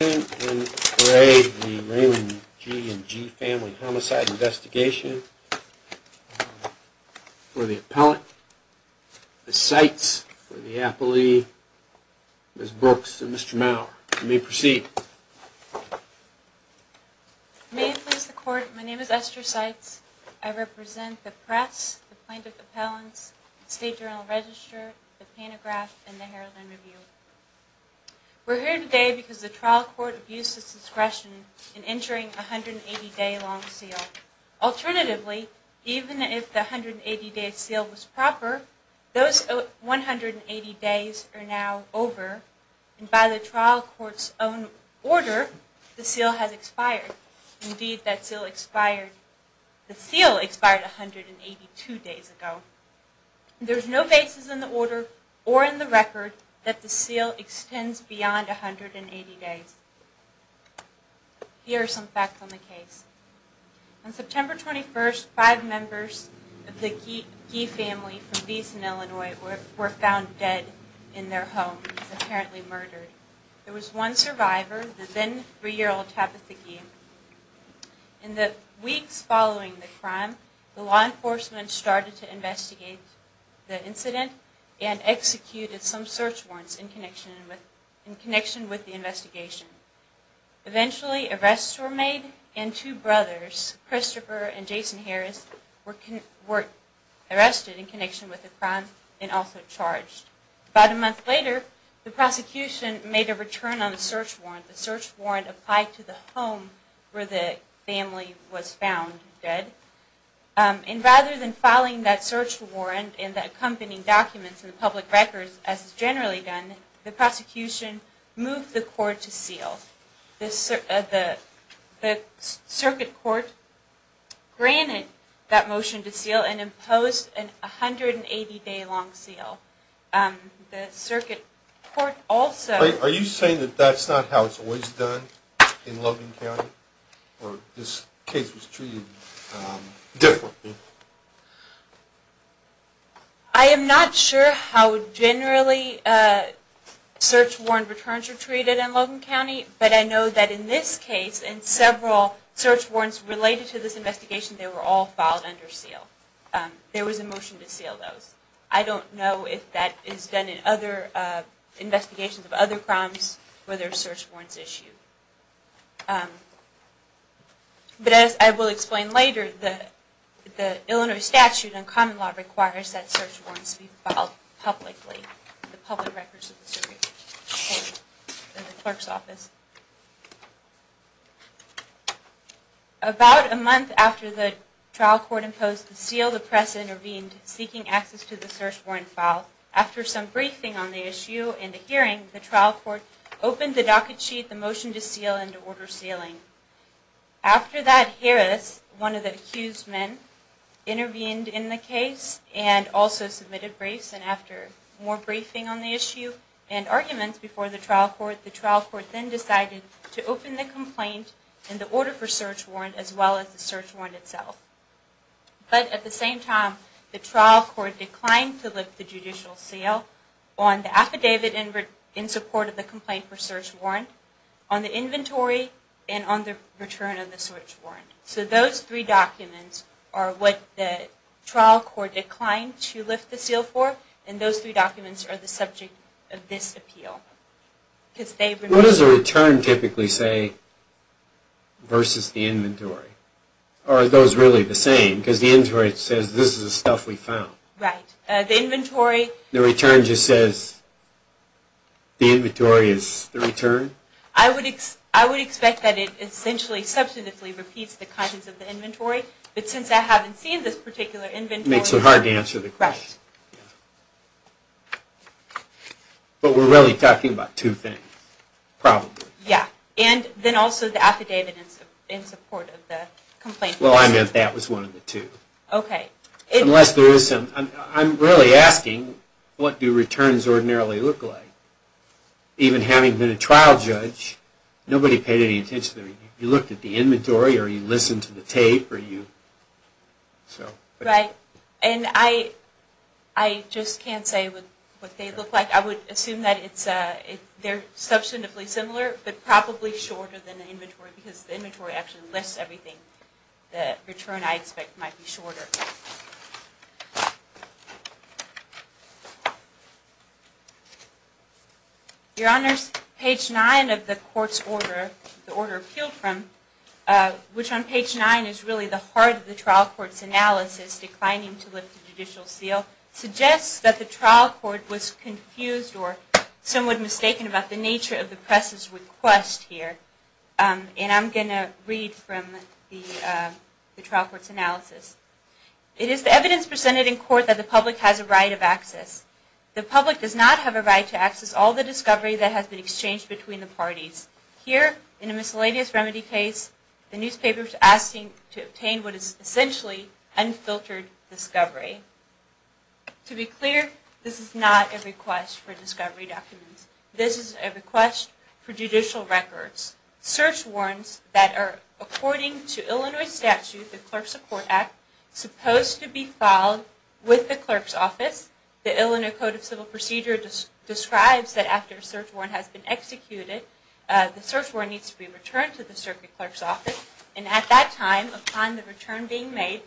The Raymond G. and G. Family Homicide Investigation for the appellate, the Seitz for the appellee, Ms. Brooks and Mr. Maurer. You may proceed. May it please the Court, my name is Esther Seitz. I represent the press, the plaintiff appellants, the State Journal-Register, the Pantograph, and the Herald and Review. We're here today because the trial court abused its discretion in entering a 180-day long seal. Alternatively, even if the 180-day seal was proper, those 180 days are now over, and by the trial court's own order, the seal has expired. Indeed, that seal expired 182 days ago. There's no basis in the order or in the record that the seal extends beyond 180 days. Here are some facts on the case. On September 21st, five members of the Gee family from Beeson, Illinois, were found dead in their home, apparently murdered. There was one survivor, the then three-year-old Tapitha Gee. In the weeks following the crime, the law enforcement started to investigate the incident and executed some search warrants in connection with the investigation. Eventually, arrests were made, and two brothers, Christopher and Jason Harris, were arrested in connection with the crime and also charged. About a month later, the prosecution made a return on the search warrant. The search warrant applied to the home where the family was found dead. And rather than filing that search warrant and the accompanying documents in the public records, as is generally done, the prosecution moved the court to seal. The circuit court granted that motion to seal and imposed an 180-day-long seal. The circuit court also... Are you saying that that's not how it's always done in Logan County, or this case was treated differently? I am not sure how generally search warrant returns are treated in Logan County, but I know that in this case, and several search warrants related to this investigation, they were all filed under seal. There was a motion to seal those. I don't know if that is done in other investigations of other crimes where there are search warrants issued. But as I will explain later, the Illinois statute and common law requires that search warrants be filed publicly, in the public records of the circuit court and the clerk's office. About a month after the trial court imposed the seal, the press intervened, seeking access to the search warrant file. After some briefing on the issue and the hearing, the trial court opened the docket sheet, the motion to seal, and to order sealing. After that, Harris, one of the accused men, intervened in the case and also submitted briefs, and after more briefing on the issue and arguments before the trial court, the trial court then decided to open the complaint and the order for search warrant as well as the search warrant itself. But at the same time, the trial court declined to lift the judicial seal on the affidavit in support of the complaint for search warrant, on the inventory, and on the return of the search warrant. So those three documents are what the trial court declined to lift the seal for, and those three documents are the subject of this appeal. What does the return typically say versus the inventory? Or are those really the same? Because the inventory says, this is the stuff we found. The return just says the inventory is the return? I would expect that it essentially, substantively repeats the contents of the inventory, but since I haven't seen this particular makes it hard to answer the question. But we're really talking about two things, probably. Yeah, and then also the affidavit in support of the complaint. Well, I meant that was one of the two. Okay. Unless there is some, I'm really asking, what do returns ordinarily look like? Even having been a trial judge, nobody paid any Right. And I just can't say what they look like. I would assume that they're substantively similar, but probably shorter than the inventory, because the inventory actually lists everything. The return, I expect, might be shorter. Your Honors, page 9 of the court's order, the order appealed from, which on page 9 is really the heart of the trial court's analysis, declining to lift the judicial seal, suggests that the trial court was confused or somewhat mistaken about the nature of the press's request here. And I'm going to read from the trial court's analysis. It is the evidence presented in court that the public has a right of access. The public does not have a right to access all the discovery that has been exchanged between the parties. Here, in a miscellaneous remedy case, the newspaper is asking to obtain what is search warrants that are, according to Illinois statute, the Clerk Support Act, supposed to be filed with the clerk's office. The Illinois Code of Civil Procedure describes that after a search warrant has been executed, the search warrant needs to be returned to the circuit clerk's office. And at that time, upon the return being made,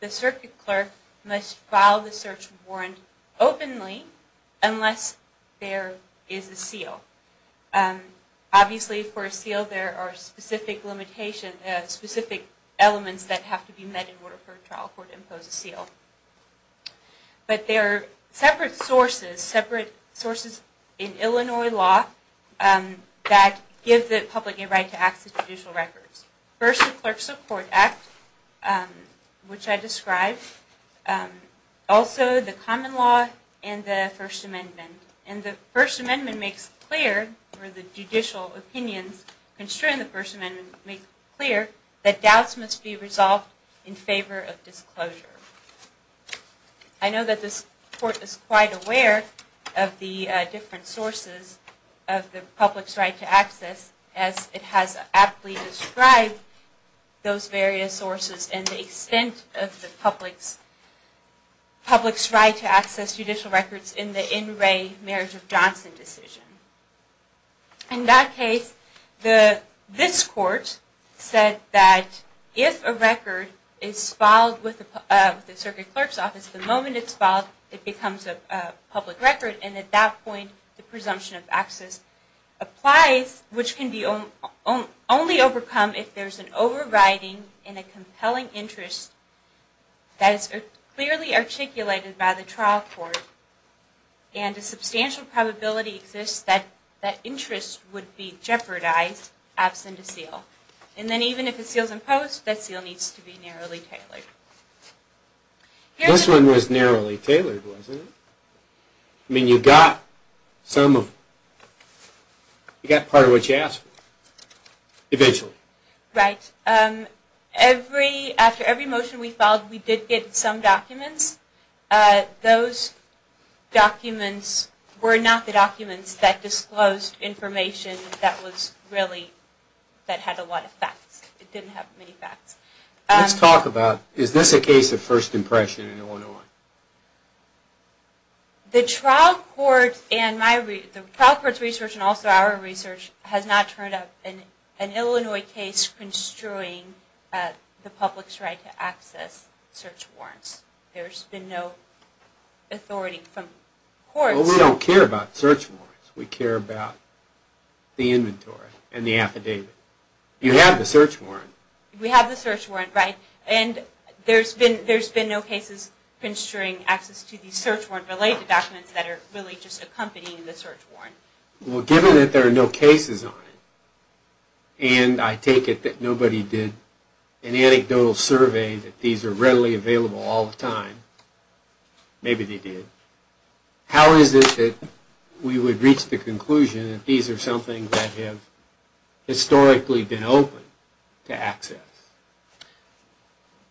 the circuit clerk must file the search warrant openly unless there is a seal. Obviously, for a seal, there are specific elements that have to be met in order for a trial court to impose a seal. But there are separate sources, separate sources in Illinois law, that give the public a right to access judicial records. First, the Clerk Support Act, which I described. Also, the common law and the First Amendment. And the First Amendment makes clear, or the judicial opinions constrained in the First Amendment make clear, that doubts must be resolved in favor of disclosure. I know that this court is quite aware of the different sources of the public's right to access, as it has aptly described those various sources and the extent of the public's right to access judicial records in the In Re. Marriage of Johnson decision. In that case, this court said that if a record is filed with the circuit clerk's office, the moment it's filed, it becomes a public record. And at that point, the presumption of access applies, which can only be overcome if there is an overriding in a compelling interest that is clearly articulated by the trial court, and a substantial probability exists that that interest would be jeopardized absent a seal. And then even if a seal is imposed, that seal needs to be narrowly tailored. This one was narrowly tailored, wasn't it? I mean, you got some of, you got part of what you asked for, eventually. Right. Every, after every motion we filed, we did get some documents. Those documents were not the documents that disclosed information that was really, that had a lot of facts. It didn't have many facts. Let's talk about, is this a case of first impression in Illinois? The trial court's research, and also our research, has not turned up an Illinois case construing the public's right to access search warrants. There's been no authority from courts. Well, we don't care about search warrants. We care about the inventory and the affidavit. You have the search warrant. We have the search warrant, right? And there's been no cases construing access to the search warrant related documents that are really just accompanying the search warrant. Well, given that there are no cases on it, and I take it that nobody did an anecdotal survey that these are readily available all the time. Maybe they did. How is it that we would reach the conclusion that these are something that have historically been open to access?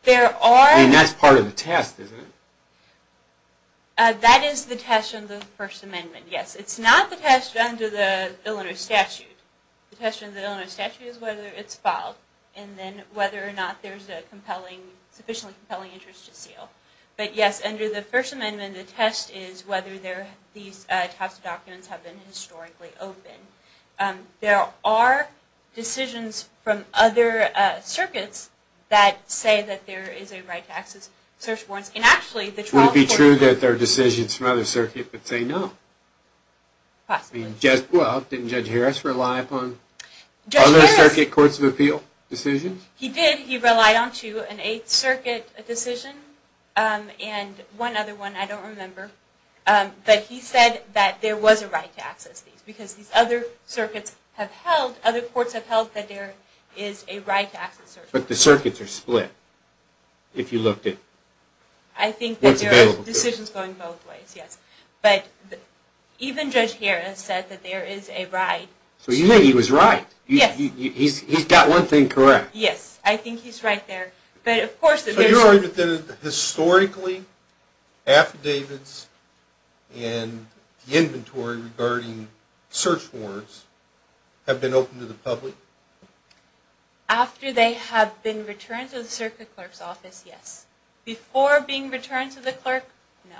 There are... I mean, that's part of the test, isn't it? That is the test under the First Amendment, yes. It's not the test under the Illinois statute. The test under the Illinois statute is whether it's filed, and then whether or not there's a compelling, sufficiently compelling interest to seal. But yes, under the First Amendment, the test is whether these types of documents have been historically open. There are decisions from other circuits that say that there is a right to access search warrants. And actually... Would it be true that there are decisions from other circuits that say no? Possibly. Well, didn't Judge Harris rely upon other circuit courts of appeal decisions? He did. He relied onto an Eighth Circuit decision, and one other one I don't remember. But he said that there was a right to access these, because these other circuits have held... other courts have held that there is a right to access search warrants. But the circuits are split, if you looked at what's available to them. I think there are decisions going both ways, yes. But even Judge Harris said that there is a right. So you think he was right? Yes. He's got one thing correct. Yes, I think he's right there. But of course... So you're arguing that historically, affidavits and inventory regarding search warrants have been open to the public? After they have been returned to the circuit clerk's office, yes. Before being returned to the clerk, no.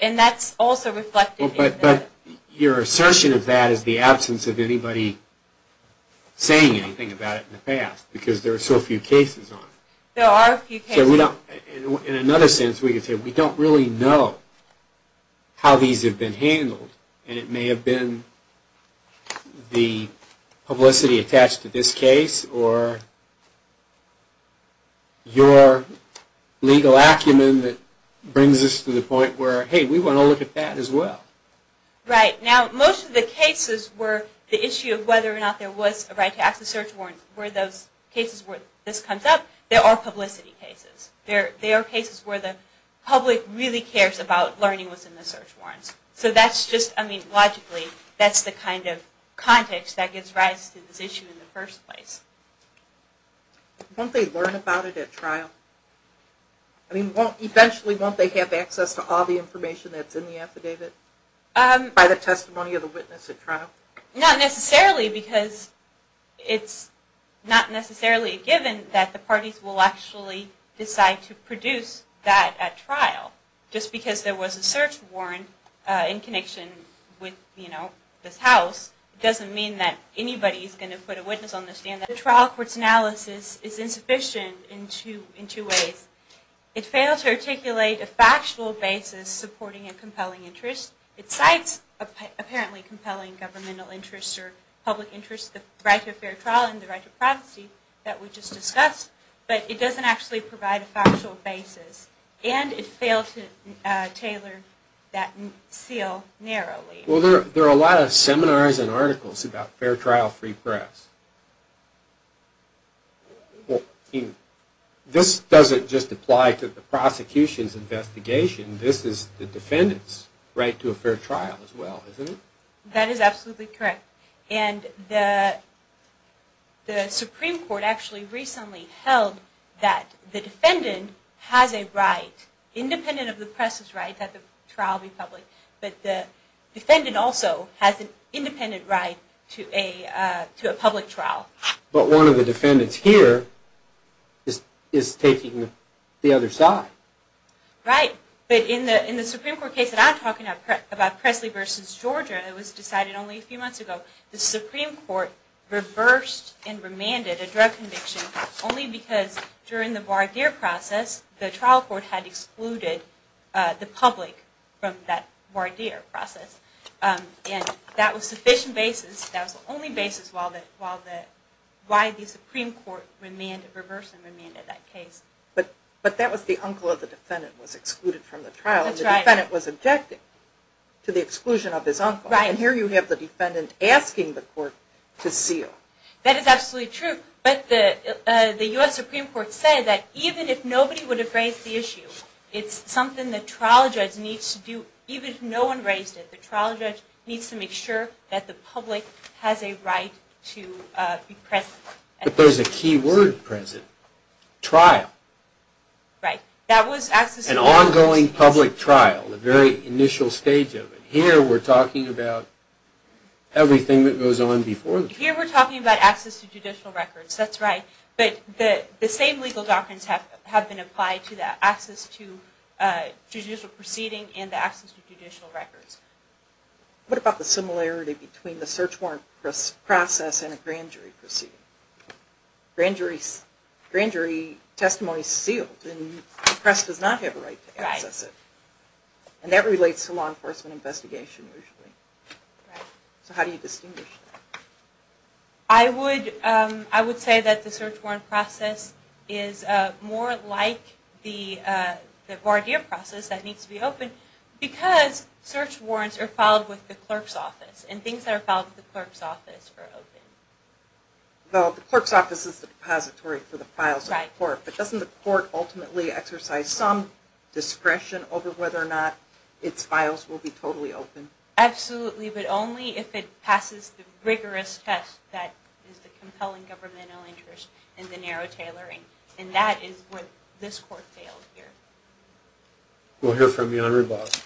And that's also reflected in... But your assertion of that is the absence of anybody saying anything about it in the past, because there are so few cases on it. There are a few cases. So we don't... In another sense, we could say we don't really know how these have been handled, and it may have been the publicity attached to this case, or... Brings us to the point where, hey, we want to look at that as well. Right. Now, most of the cases where the issue of whether or not there was a right to access search warrants were those cases where this comes up. There are publicity cases. There are cases where the public really cares about learning what's in the search warrants. So that's just... I mean, logically, that's the kind of context that gives rise to this issue in the first place. Won't they learn about it at trial? I mean, eventually, won't they have access to all the information that's in the affidavit by the testimony of the witness at trial? Not necessarily, because it's not necessarily a given that the parties will actually decide to produce that at trial. Just because there was a search warrant in connection with this house doesn't mean that anybody's going to put a witness on the stand. The trial court's analysis is insufficient in two ways. It fails to articulate a factual basis supporting a compelling interest. It cites apparently compelling governmental interests or public interests, the right to a fair trial and the right to privacy that we just discussed, but it doesn't actually provide a factual basis. And it failed to tailor that seal narrowly. Well, there are a lot of seminars and articles about fair trial, free press. This doesn't just apply to the prosecution's investigation. This is the defendant's right to a fair trial as well, isn't it? That is absolutely correct. And the Supreme Court actually recently held that the defendant has a right, independent of the press's right that the trial be public, but the defendant also has an independent right to a public trial. But one of the defendants here is taking the other side. Right. But in the Supreme Court case that I'm talking about, Presley v. Georgia, that was decided only a few months ago, the Supreme Court reversed and remanded a drug conviction only because during the voir dire process, the trial court had excluded the public from that voir dire process. And that was the only basis why the Supreme Court reversed and remanded that case. But that was the uncle of the defendant was excluded from the trial. That's right. And the defendant was objecting to the exclusion of his uncle. Right. And here you have the defendant asking the court to seal. That is absolutely true. But the U.S. Supreme Court said that even if nobody would have raised the issue, it's something the trial judge needs to do, even if no one raised it. The trial judge needs to make sure that the public has a right to be present. But there's a key word, present. Trial. Right. An ongoing public trial, the very initial stage of it. Here we're talking about everything that goes on before the trial. Here we're talking about access to judicial records. That's right. But the same legal doctrines have been applied to that, access to judicial proceeding and the access to judicial records. What about the similarity between the search warrant process and a grand jury proceeding? Grand jury testimony is sealed, and the press does not have a right to access it. Right. And that relates to law enforcement investigation usually. Right. So how do you distinguish that? I would say that the search warrant process is more like the voir dire process that needs to be open because search warrants are filed with the clerk's office, and things that are filed with the clerk's office are open. Well, the clerk's office is the depository for the files of the court, but doesn't the court ultimately exercise some discretion over whether or not its files will be totally open? Absolutely. But only if it passes the rigorous test that is the compelling governmental interest in the narrow tailoring. And that is what this court failed here. We'll hear from you on rebuttal.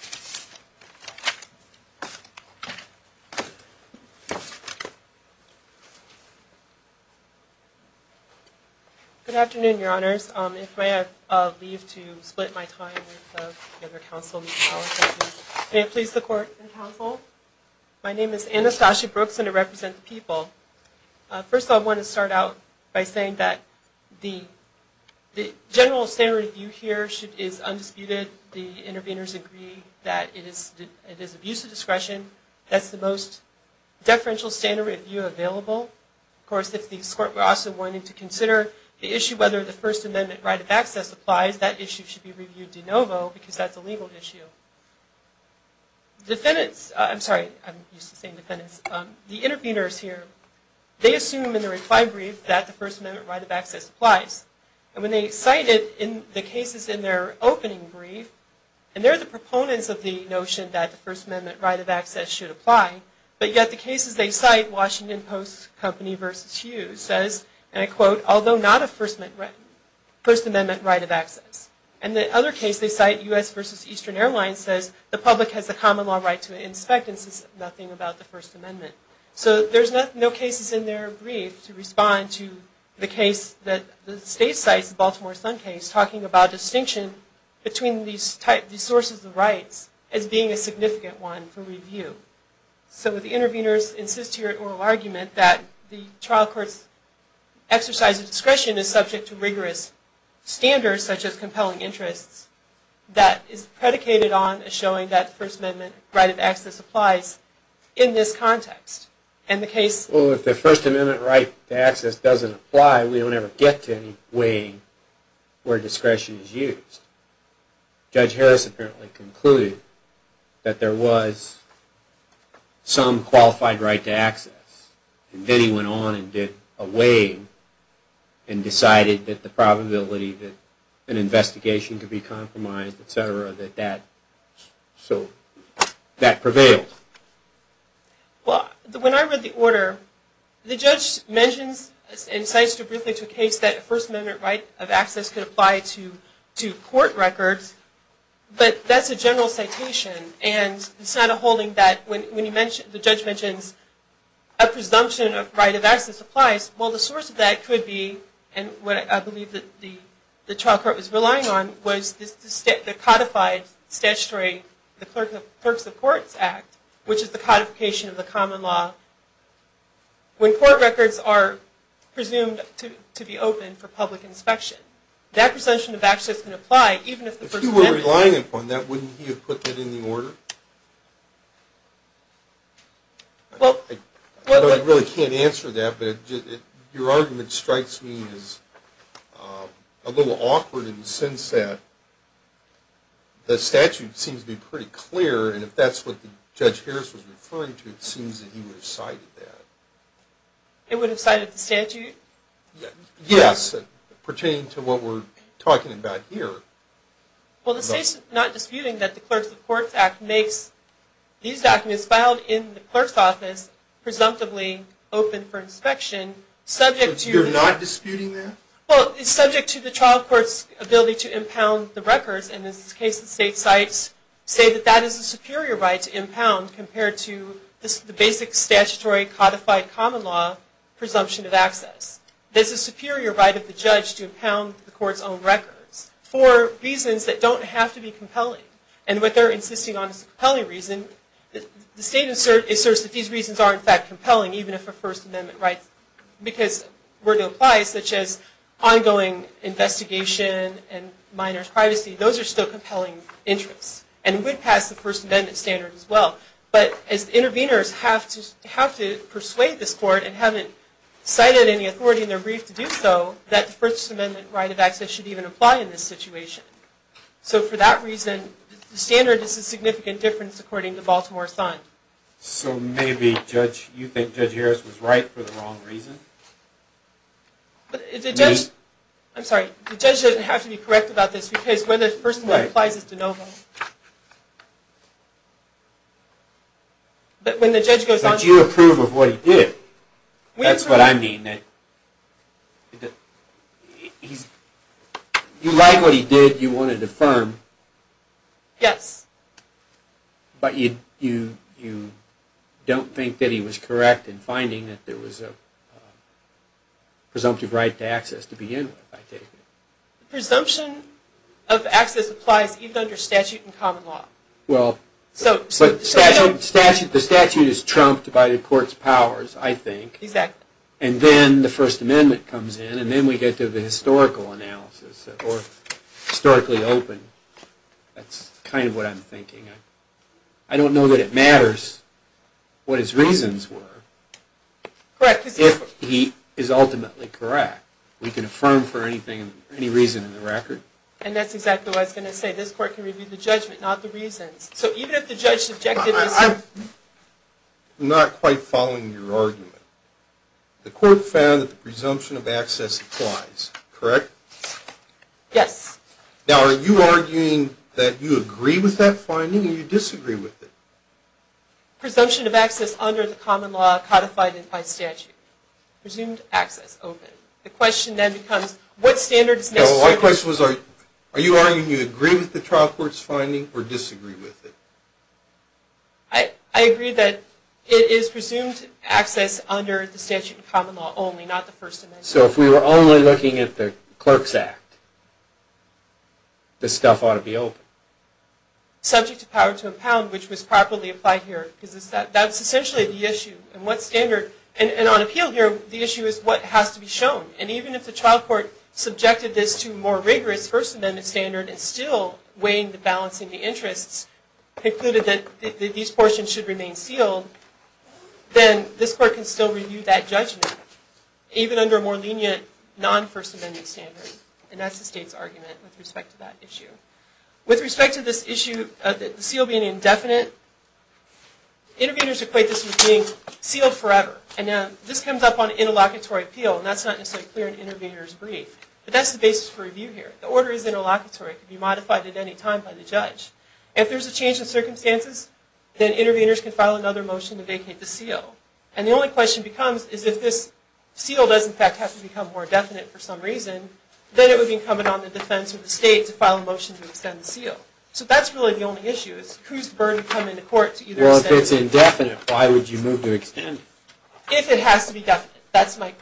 Good afternoon, Your Honors. If I may leave to split my time with the other counsel, Ms. Allison. May it please the court and counsel. My name is Anastasia Brooks, and I represent the people. First of all, I want to start out by saying that the general standard of view here is undisputed. The interveners agree that it is abuse of discretion. That's the most deferential standard of view available. Of course, if the court were also wanting to consider the issue whether the First Amendment right of access applies, that issue should be reviewed de novo because that's a legal issue. Defendants, I'm sorry, I'm used to saying defendants, the interveners here, they assume in the reply brief that the First Amendment right of access applies. And when they cite it in the cases in their opening brief, and they're the proponents of the notion that the First Amendment right of access should apply, but yet the cases they cite, Washington Post Company v. Hughes says, and I quote, although not a First Amendment right of access. And the other case they cite, U.S. v. Eastern Airlines says, the public has a common law right to inspect and says nothing about the First Amendment. So there's no cases in their brief to respond to the case that the state cites, the Baltimore Sun case, talking about distinction between these sources of rights as being a significant one for review. So the interveners insist here at oral argument that the trial court's exercise of discretion is subject to rigorous standards such as compelling interests that is predicated on showing that the First Amendment right of access applies in this context. Well, if the First Amendment right to access doesn't apply, we don't ever get to any weighing where discretion is used. Judge Harris apparently concluded that there was some qualified right to access, and then he went on and did a weighing and decided that the probability that an investigation could be compromised, et cetera, that that prevailed. Well, when I read the order, the judge mentions and cites briefly to a case that a First Amendment right of access could apply to court records, but that's a general citation, and it's not a holding that when the judge mentions a presumption of right of access applies, well, the source of that could be, and what I believe that the trial court was relying on, was the codified statutory, the Clerks of Courts Act, which is the codification of the common law. When court records are presumed to be open for public inspection, that presumption of access can apply even if the First Amendment... I really can't answer that, but your argument strikes me as a little awkward in the sense that the statute seems to be pretty clear, and if that's what Judge Harris was referring to, it seems that he would have cited that. He would have cited the statute? Yes, pertaining to what we're talking about here. Well, the state's not disputing that the Clerks of Courts Act makes these documents filed in the clerk's office presumptively open for inspection, subject to... So you're not disputing that? Well, it's subject to the trial court's ability to impound the records, and in this case the state cites, say that that is a superior right to impound compared to the basic statutory codified common law presumption of access. There's a superior right of the judge to impound the court's own records for reasons that don't have to be compelling, and what they're insisting on is a compelling reason. The state asserts that these reasons are in fact compelling, even if they're First Amendment rights, because where they apply, such as ongoing investigation and minors' privacy, those are still compelling interests, and would pass the First Amendment standard as well. But as the interveners have to persuade this court, and haven't cited any authority in their brief to do so, that the First Amendment right of access should even apply in this situation. So for that reason, the standard is a significant difference according to Baltimore Sun. So maybe you think Judge Harris was right for the wrong reason? I'm sorry, the judge doesn't have to be correct about this, because when the First Amendment applies, it's de novo. But when the judge goes on to... But you approve of what he did. That's what I mean. You like what he did, you want it affirmed. Yes. But you don't think that he was correct in finding that there was a presumptive right to access to begin with, I take it. Presumption of access applies even under statute and common law. Well, the statute is trumped by the court's powers, I think. Exactly. And then the First Amendment comes in, and then we get to the historical analysis, or historically open. That's kind of what I'm thinking. I don't know that it matters what his reasons were. Correct. If he is ultimately correct, we can affirm for any reason in the record. And that's exactly what I was going to say. This court can review the judgment, not the reasons. So even if the judge's objective is... I'm not quite following your argument. The court found that the presumption of access applies, correct? Yes. Now, are you arguing that you agree with that finding or you disagree with it? Presumption of access under the common law codified by statute. Presumed access open. The question then becomes what standard is necessary... No, my question was are you arguing you agree with the trial court's finding or disagree with it? I agree that it is presumed access under the statute of common law only, not the First Amendment. So if we were only looking at the Clerk's Act, this stuff ought to be open. Subject to power to impound, which was properly applied here. That's essentially the issue. And on appeal here, the issue is what has to be shown. And even if the trial court subjected this to more rigorous First Amendment standard and still weighing the balance of the interests, concluded that these portions should remain sealed, then this court can still review that judgment, even under a more lenient non-First Amendment standard. And that's the state's argument with respect to that issue. With respect to this issue of the seal being indefinite, interveners equate this with being sealed forever. And now this comes up on interlocutory appeal, and that's not necessarily clear in intervener's brief. But that's the basis for review here. The order is interlocutory. It can be modified at any time by the judge. If there's a change in circumstances, then interveners can file another motion to vacate the seal. And the only question becomes is if this seal does, in fact, have to become more definite for some reason, then it would be incumbent on the defense or the state to file a motion to extend the seal. So that's really the only issue, is whose burden come into court to either extend it. Well, if it's indefinite, why would you move to extend it? If it has to be definite, that's my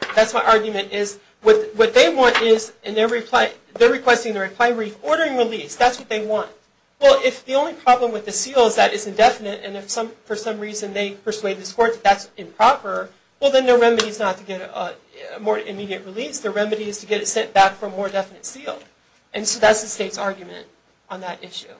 argument, is what they want is in their reply, they're requesting the reply brief ordering release. That's what they want. Well, if the only problem with the seal is that it's indefinite, and if for some reason they persuade this court that that's improper, well, then their remedy is not to get a more immediate release. Their remedy is to get it sent back for a more definite seal. And so that's the state's argument on that issue.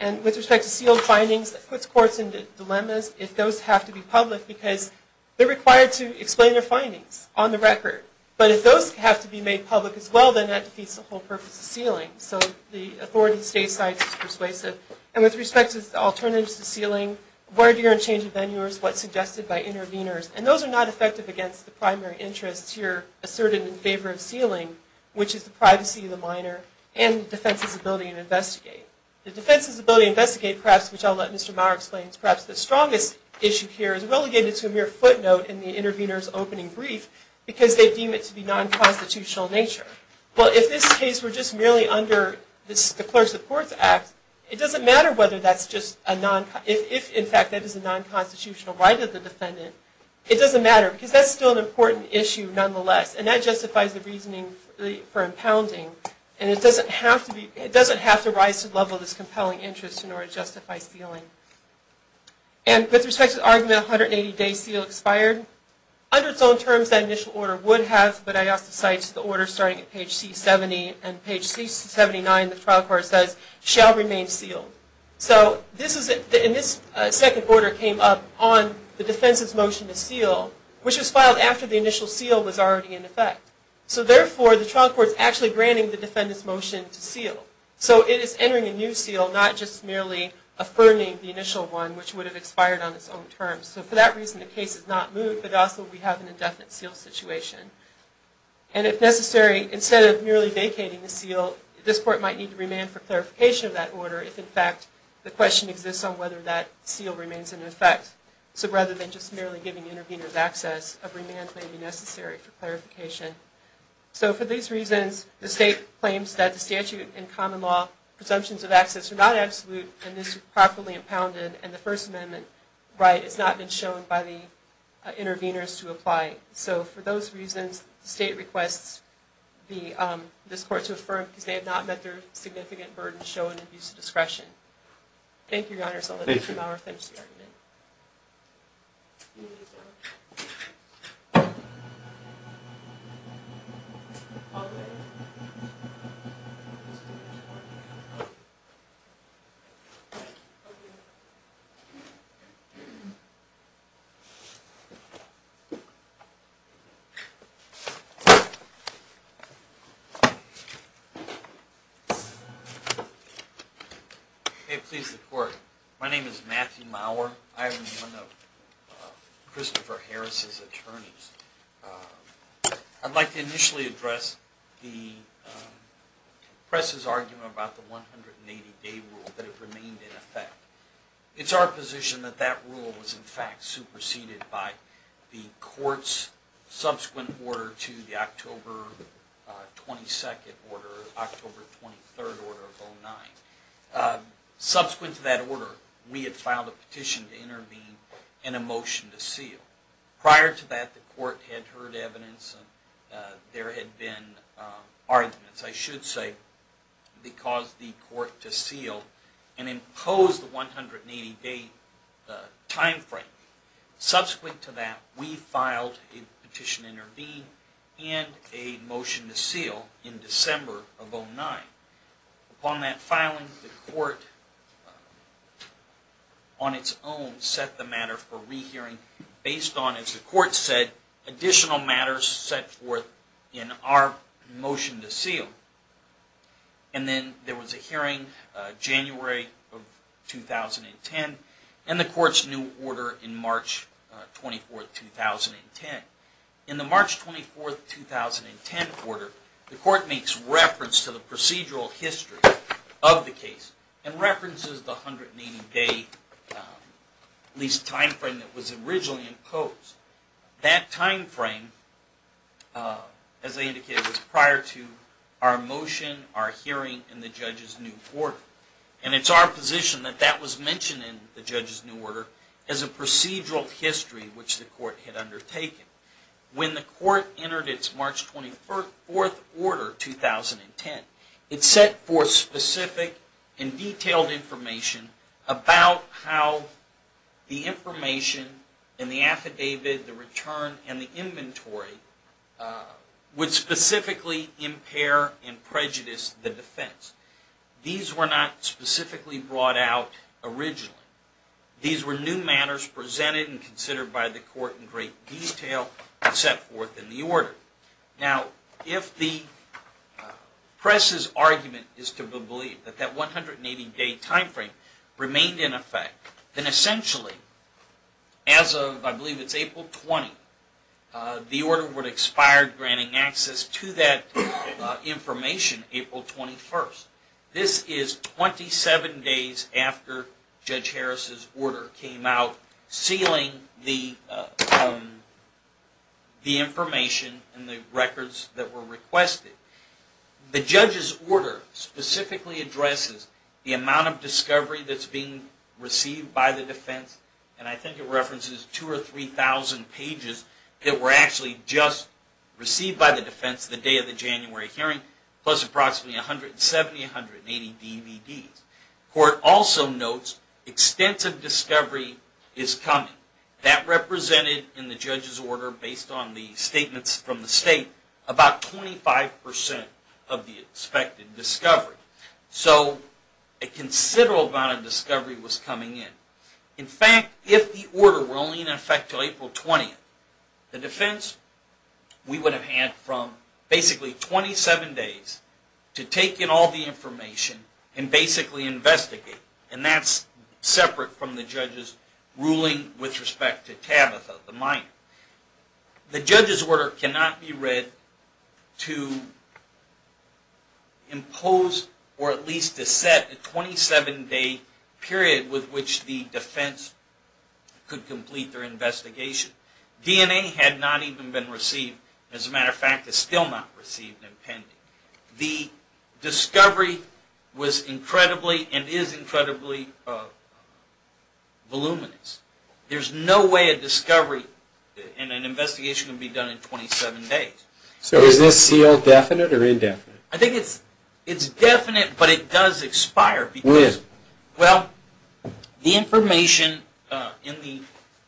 And with respect to sealed findings, that puts courts into dilemmas if those have to be public, because they're required to explain their findings on the record. But if those have to be made public as well, then that defeats the whole purpose of sealing. So the authority of the state side is persuasive. And with respect to alternatives to sealing, where do you go to change the venue, what's suggested by interveners, and those are not effective against the primary interests here asserted in favor of sealing, which is the privacy of the minor and the defense's ability to investigate. The defense's ability to investigate, perhaps, which I'll let Mr. Maurer explain, is perhaps the strongest issue here is relegated to a mere footnote in the intervener's opening brief because they deem it to be non-constitutional in nature. But if this case were just merely under the Clerks of Courts Act, it doesn't matter whether that's just a non- if, in fact, that is a non-constitutional right of the defendant, it doesn't matter because that's still an important issue nonetheless. And that justifies the reasoning for impounding. And it doesn't have to rise to the level of this compelling interest in order to justify sealing. And with respect to the argument 180 days seal expired, under its own terms that initial order would have, but I also cite the order starting at page C70, and page C79 the trial court says, shall remain sealed. So this second order came up on the defense's motion to seal, which was filed after the initial seal was already in effect. So therefore, the trial court's actually granting the defendant's motion to seal. So it is entering a new seal, not just merely affirming the initial one, which would have expired on its own terms. So for that reason the case is not moved, but also we have an indefinite seal situation. And if necessary, instead of merely vacating the seal, this court might need to remand for clarification of that order if, in fact, the question exists on whether that seal remains in effect. So rather than just merely giving interveners access, a remand may be necessary for clarification. So for these reasons, the state claims that the statute and common law presumptions of access are not absolute, and this is properly impounded, and the First Amendment right has not been shown by the interveners to apply. So for those reasons, the state requests this court to affirm because they have not met their significant burden to show an abuse of discretion. Thank you, Your Honor. Thank you. Thank you. May it please the Court, My name is Matthew Maurer. I am one of Christopher Harris' attorneys. I'd like to initially address the press' argument about the 180-day rule that it remained in effect. It's our position that that rule was in fact superseded by the Court's subsequent order to the October 22nd order, October 23rd order of 09. Subsequent to that order, we had filed a petition to intervene and a motion to seal. Prior to that, the Court had heard evidence and there had been arguments, I should say, that caused the Court to seal and impose the 180-day time frame. Subsequent to that, we filed a petition to intervene and a motion to seal in December of 09. Upon that filing, the Court on its own set the matter for rehearing based on, as the Court said, additional matters set forth in our motion to seal. And then there was a hearing in January of 2010 and the Court's new order in March 24th, 2010. In the March 24th, 2010 order, the Court makes reference to the procedural history of the case and references the 180-day lease time frame that was originally imposed. That time frame, as I indicated, was prior to our motion, our hearing, and the Judge's new order. And it's our position that that was mentioned in the Judge's new order as a procedural history, which the Court had undertaken. When the Court entered its March 24th order, 2010, it set forth specific and detailed information about how the information in the affidavit, the return, and the inventory would specifically impair and prejudice the defense. These were not specifically brought out originally. These were new matters presented and considered by the Court in great detail and set forth in the order. Now, if the press's argument is to believe that that 180-day time frame remained in effect, then essentially, as of, I believe it's April 20, the order would expire granting access to that information April 21st. This is 27 days after Judge Harris's order came out, sealing the information and the records that were requested. The Judge's order specifically addresses the amount of discovery that's being received by the defense, and I think it references 2,000 or 3,000 pages that were actually just received by the defense the day of the January hearing, plus approximately 170-180 DVDs. The Court also notes extensive discovery is coming. That represented in the Judge's order, based on the statements from the state, about 25% of the expected discovery. So, a considerable amount of discovery was coming in. In fact, if the order were only in effect until April 20th, the defense would have had from basically 27 days to take in all the information and basically investigate. And that's separate from the Judge's ruling with respect to Tabitha, the minor. The Judge's order cannot be read to impose or at least to set a 27-day period with which the defense could complete their investigation. DNA had not even been received. As a matter of fact, it's still not received and pending. The discovery was incredibly and is incredibly voluminous. There's no way a discovery and an investigation can be done in 27 days. So, is this seal definite or indefinite? I think it's definite, but it does expire. When? Well, the information in the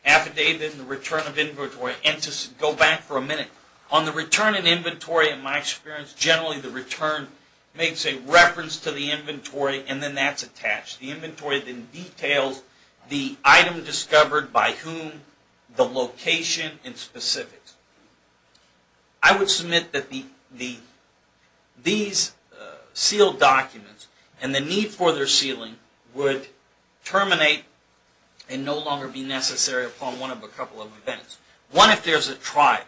affidavit and the return of inventory, and to go back for a minute, on the return of inventory, in my experience, generally the return makes a reference to the inventory and then that's attached. The inventory then details the item discovered by whom, the location, and specifics. I would submit that these sealed documents and the need for their sealing would terminate and no longer be necessary upon one of a couple of events. One, if there's a trial.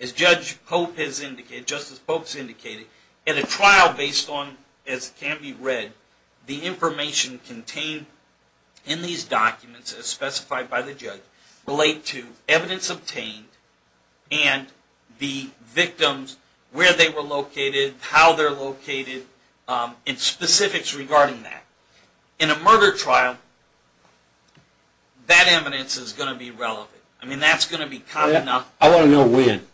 As Judge Pope has indicated, Justice Pope has indicated, in a trial based on, as can be read, the information contained in these documents, as specified by the judge, relate to evidence obtained and the victims, where they were located, how they're located, and specifics regarding that. In a murder trial, that evidence is going to be relevant. I want to know when.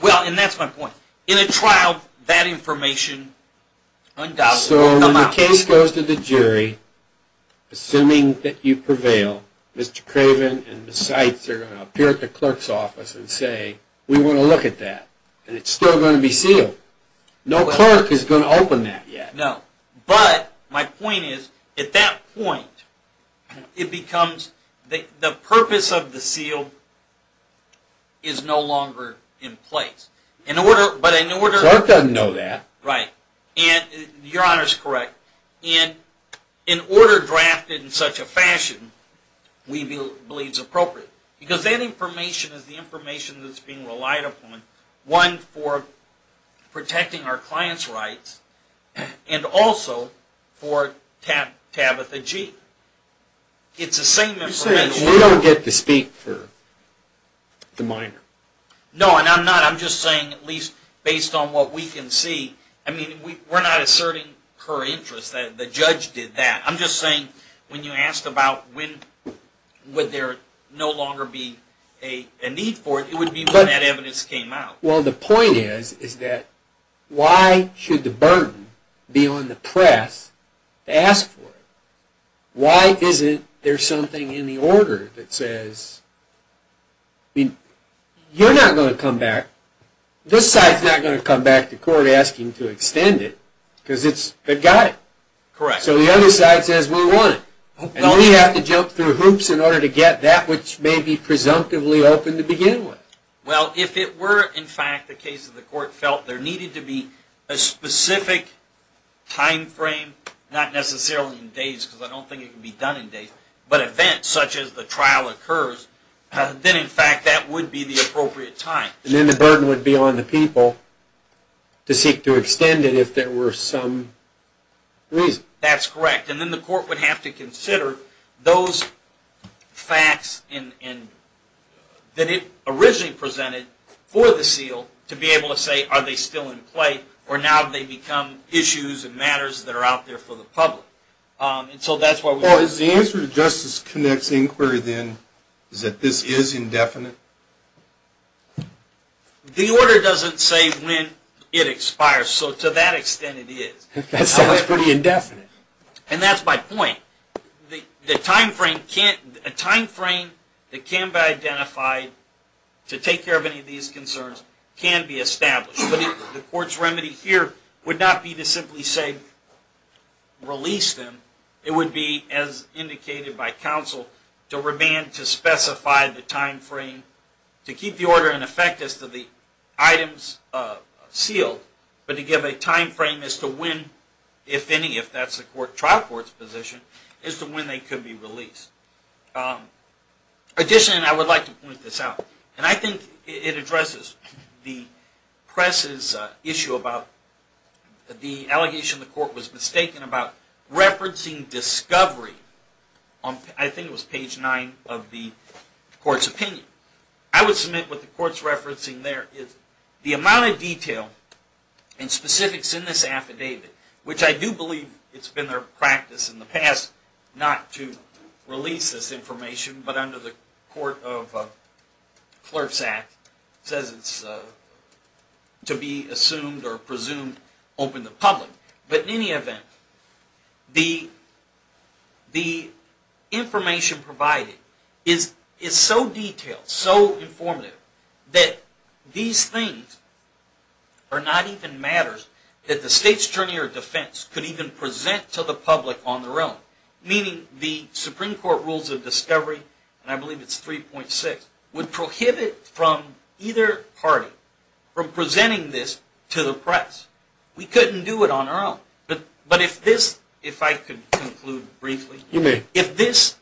Well, and that's my point. In a trial, that information undoubtedly comes out. So, when the case goes to the jury, assuming that you prevail, Mr. Craven and Ms. Seitz are going to appear at the clerk's office and say, we want to look at that, and it's still going to be sealed. No clerk is going to open that yet. No. But, my point is, at that point, it becomes, the purpose of the seal is no longer in place. Clerk doesn't know that. Right. Your Honor is correct. In order drafted in such a fashion, we believe it's appropriate. Because that information is the information that's being relied upon, one, for protecting our client's rights, and also for Tabitha G. It's the same information. You're saying we don't get to speak for the minor? No, and I'm not. I'm just saying, at least based on what we can see, I mean, we're not asserting her interest that the judge did that. I'm just saying, when you asked about when would there no longer be a need for it, it would be when that evidence came out. Well, the point is, is that why should the burden be on the press to ask for it? Why isn't there something in the order that says, you're not going to come back, this side's not going to come back to court asking to extend it, because they've got it. Correct. So the other side says, we want it. And we have to jump through hoops in order to get that which may be presumptively open to begin with. Well, if it were, in fact, the case of the court felt there needed to be a specific time frame, not necessarily in days because I don't think it can be done in days, but events such as the trial occurs, then, in fact, that would be the appropriate time. And then the burden would be on the people to seek to extend it if there were some reason. That's correct. And then the court would have to consider those facts that it originally presented for the seal to be able to say, are they still in play, or now have they become issues and matters that are out there for the public? Well, is the answer to Justice Connick's inquiry, then, is that this is indefinite? The order doesn't say when it expires. So to that extent, it is. That sounds pretty indefinite. And that's my point. The time frame that can be identified to take care of any of these concerns can be established. The court's remedy here would not be to simply say, release them. It would be, as indicated by counsel, to remand to specify the time frame, to keep the order in effect as to the items sealed, but to give a time frame as to when, if any, if that's the trial court's position, as to when they could be released. Additionally, and I would like to point this out, and I think it addresses the press's issue about the allegation the court was mistaken about referencing discovery. I think it was page 9 of the court's opinion. I would submit what the court's referencing there is the amount of detail and specifics in this affidavit, which I do believe it's been their practice in the past not to release this information, but under the Court of Clerks Act, says it's to be assumed or presumed open to public. But in any event, the information provided is so detailed, so informative, that these things are not even matters that the state's journey or defense could even present to the public on their own. Meaning the Supreme Court rules of discovery, and I believe it's 3.6, would prohibit from either party from presenting this to the press. We couldn't do it on our own. But if this, if I could conclude briefly. You may. If this,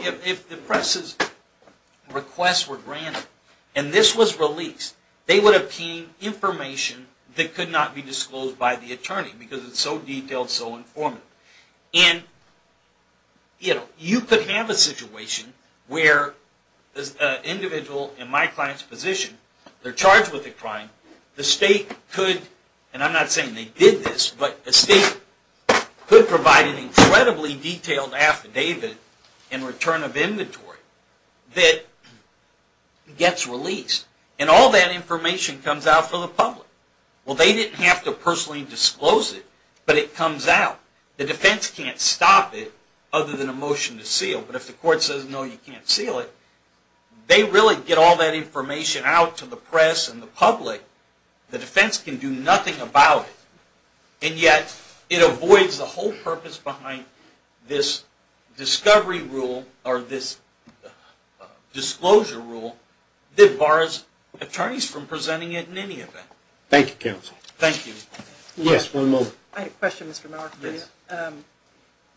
if the press's requests were granted, and this was released, because it's so detailed, so informative. And you could have a situation where an individual in my client's position, they're charged with a crime, the state could, and I'm not saying they did this, but the state could provide an incredibly detailed affidavit in return of inventory that gets released. And all that information comes out to the public. Well, they didn't have to personally disclose it, but it comes out. The defense can't stop it, other than a motion to seal. But if the court says, no, you can't seal it, they really get all that information out to the press and the public. The defense can do nothing about it. And yet, it avoids the whole purpose behind this discovery rule, or this disclosure rule, that bars attorneys from presenting it in any event. Thank you, counsel. Thank you. Yes, one moment. I had a question, Mr. Mower. Yes.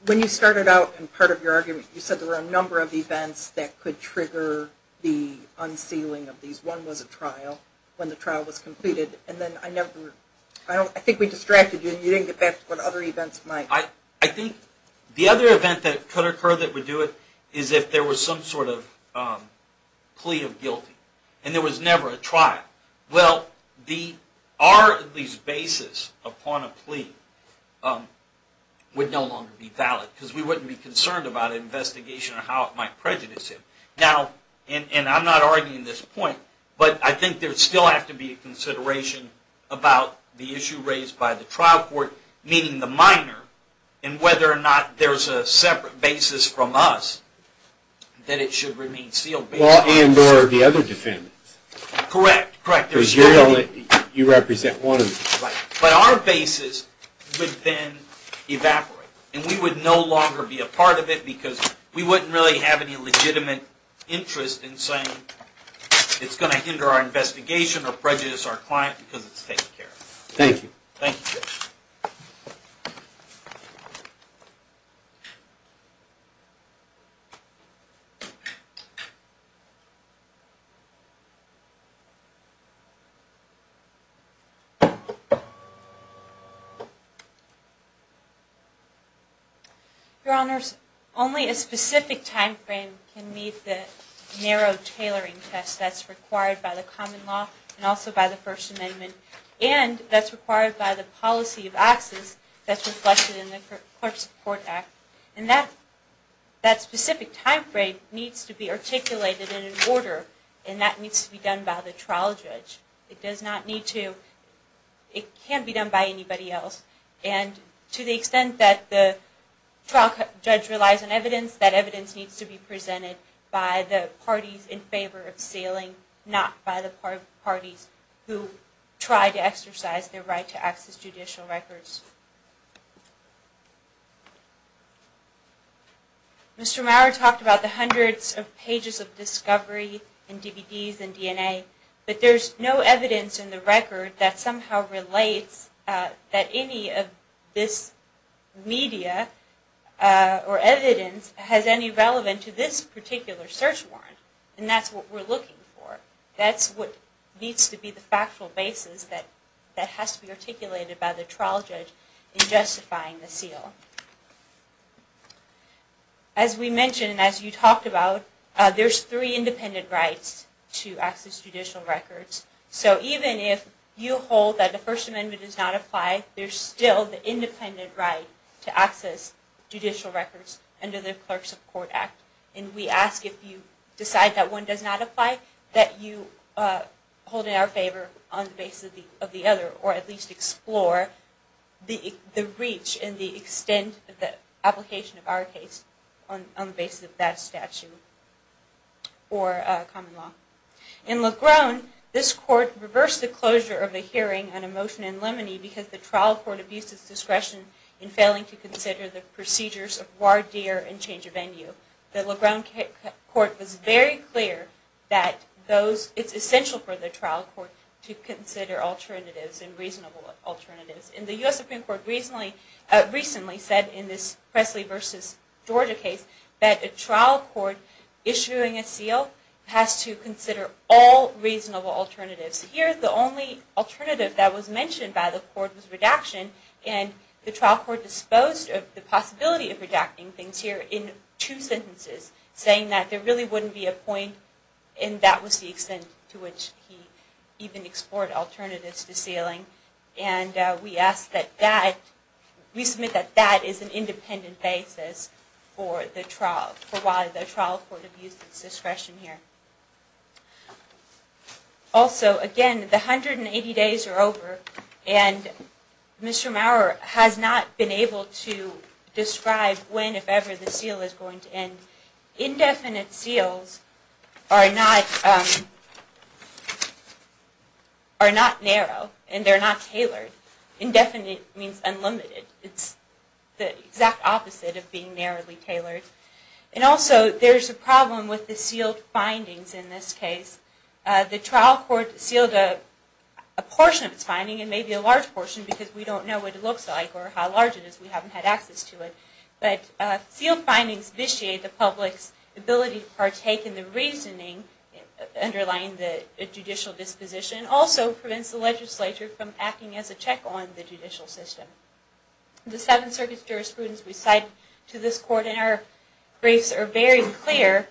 When you started out in part of your argument, you said there were a number of events that could trigger the unsealing of these. One was a trial, when the trial was completed. And then I never, I think we distracted you, and you didn't get back to what other events might. I think the other event that could occur that would do it, is if there was some sort of plea of guilty. And there was never a trial. Well, our basis upon a plea would no longer be valid, because we wouldn't be concerned about an investigation or how it might prejudice him. Now, and I'm not arguing this point, but I think there would still have to be a consideration about the issue raised by the trial court, meaning the minor, and whether or not there's a separate basis from us that it should remain sealed. Well, and or the other defendants. Correct, correct. Because you represent one of them. Right. But our basis would then evaporate. And we would no longer be a part of it, because we wouldn't really have any legitimate interest in saying it's going to hinder our investigation or prejudice our client, because it's taken care of. Thank you. Thank you. Your Honors, only a specific time frame can meet the narrow tailoring test that's required by the common law and also by the First Amendment. And that's required by the policy of access that's reflected in the Court Support Act. And that specific time frame needs to be articulated in an order, and that needs to be done by the trial judge. It does not need to, it can't be done by anybody else. And to the extent that the trial judge relies on evidence, that evidence needs to be presented by the parties in favor of sealing, not by the parties who try to exercise their right to access judicial records. Mr. Maurer talked about the hundreds of pages of discovery in DVDs and DNA, but there's no evidence in the record that somehow relates that any of this media or evidence has any relevance to this particular search warrant. And that's what we're looking for. That's what needs to be the factual basis that has to be articulated by the trial judge in justifying the seal. As we mentioned and as you talked about, there's three independent rights to access judicial records. So even if you hold that the First Amendment does not apply, there's still the independent right to access judicial records under the Clerk Support Act. And we ask if you decide that one does not apply, that you hold it in our favor on the basis of the other, or at least explore the reach and the extent of the application of our case on the basis of that statute or common law. In Legrone, this Court reversed the closure of the hearing on a motion in Lemony because the trial court abused its discretion in failing to consider the procedures of voir dire and change of venue. The Legrone Court was very clear that it's essential for the trial court to consider alternatives and reasonable alternatives. And the U.S. Supreme Court recently said in this Presley v. Georgia case that a trial court issuing a seal has to consider all reasonable alternatives. Here, the only alternative that was mentioned by the court was redaction, and the trial court disposed of the possibility of redacting things here in two sentences, saying that there really wouldn't be a point, and that was the extent to which he even explored alternatives to sealing. And we submit that that is an independent basis for why the trial court abused its discretion here. Also, again, the 180 days are over, and Mr. Maurer has not been able to describe when, if ever, the seal is going to end. Indefinite seals are not narrow, and they're not tailored. Indefinite means unlimited. It's the exact opposite of being narrowly tailored. And also, there's a problem with the sealed findings in this case. The trial court sealed a portion of its finding, and maybe a large portion, because we don't know what it looks like or how large it is. We haven't had access to it. But sealed findings vitiate the public's ability to partake in the reasoning underlying the judicial disposition, and also prevents the legislature from acting as a check on the judicial system. The Seventh Circuit's jurisprudence we cite to this court in our briefs are very clear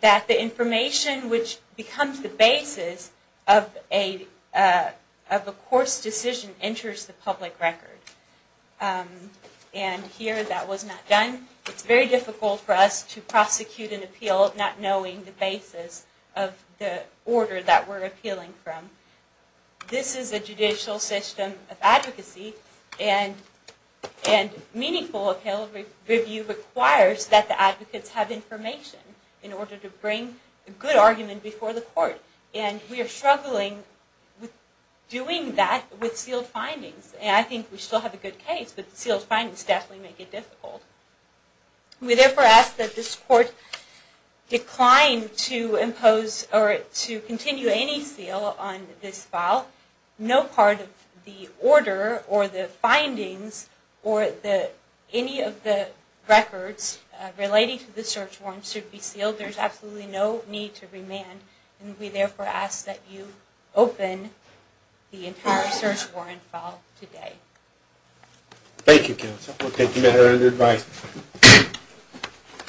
that the information which becomes the basis of a course decision enters the public record. And here, that was not done. It's very difficult for us to prosecute an appeal not knowing the basis of the order that we're appealing from. This is a judicial system of advocacy, and meaningful appeal review requires that the advocates have information in order to bring a good argument before the court. And we are struggling with doing that with sealed findings. And I think we still have a good case, but sealed findings definitely make it difficult. We therefore ask that this court decline to impose or to continue any seal on this file. No part of the order or the findings or any of the records relating to the search warrant should be sealed. There's absolutely no need to remand. And we therefore ask that you open the entire search warrant file today. Thank you, counsel. We'll take your advice.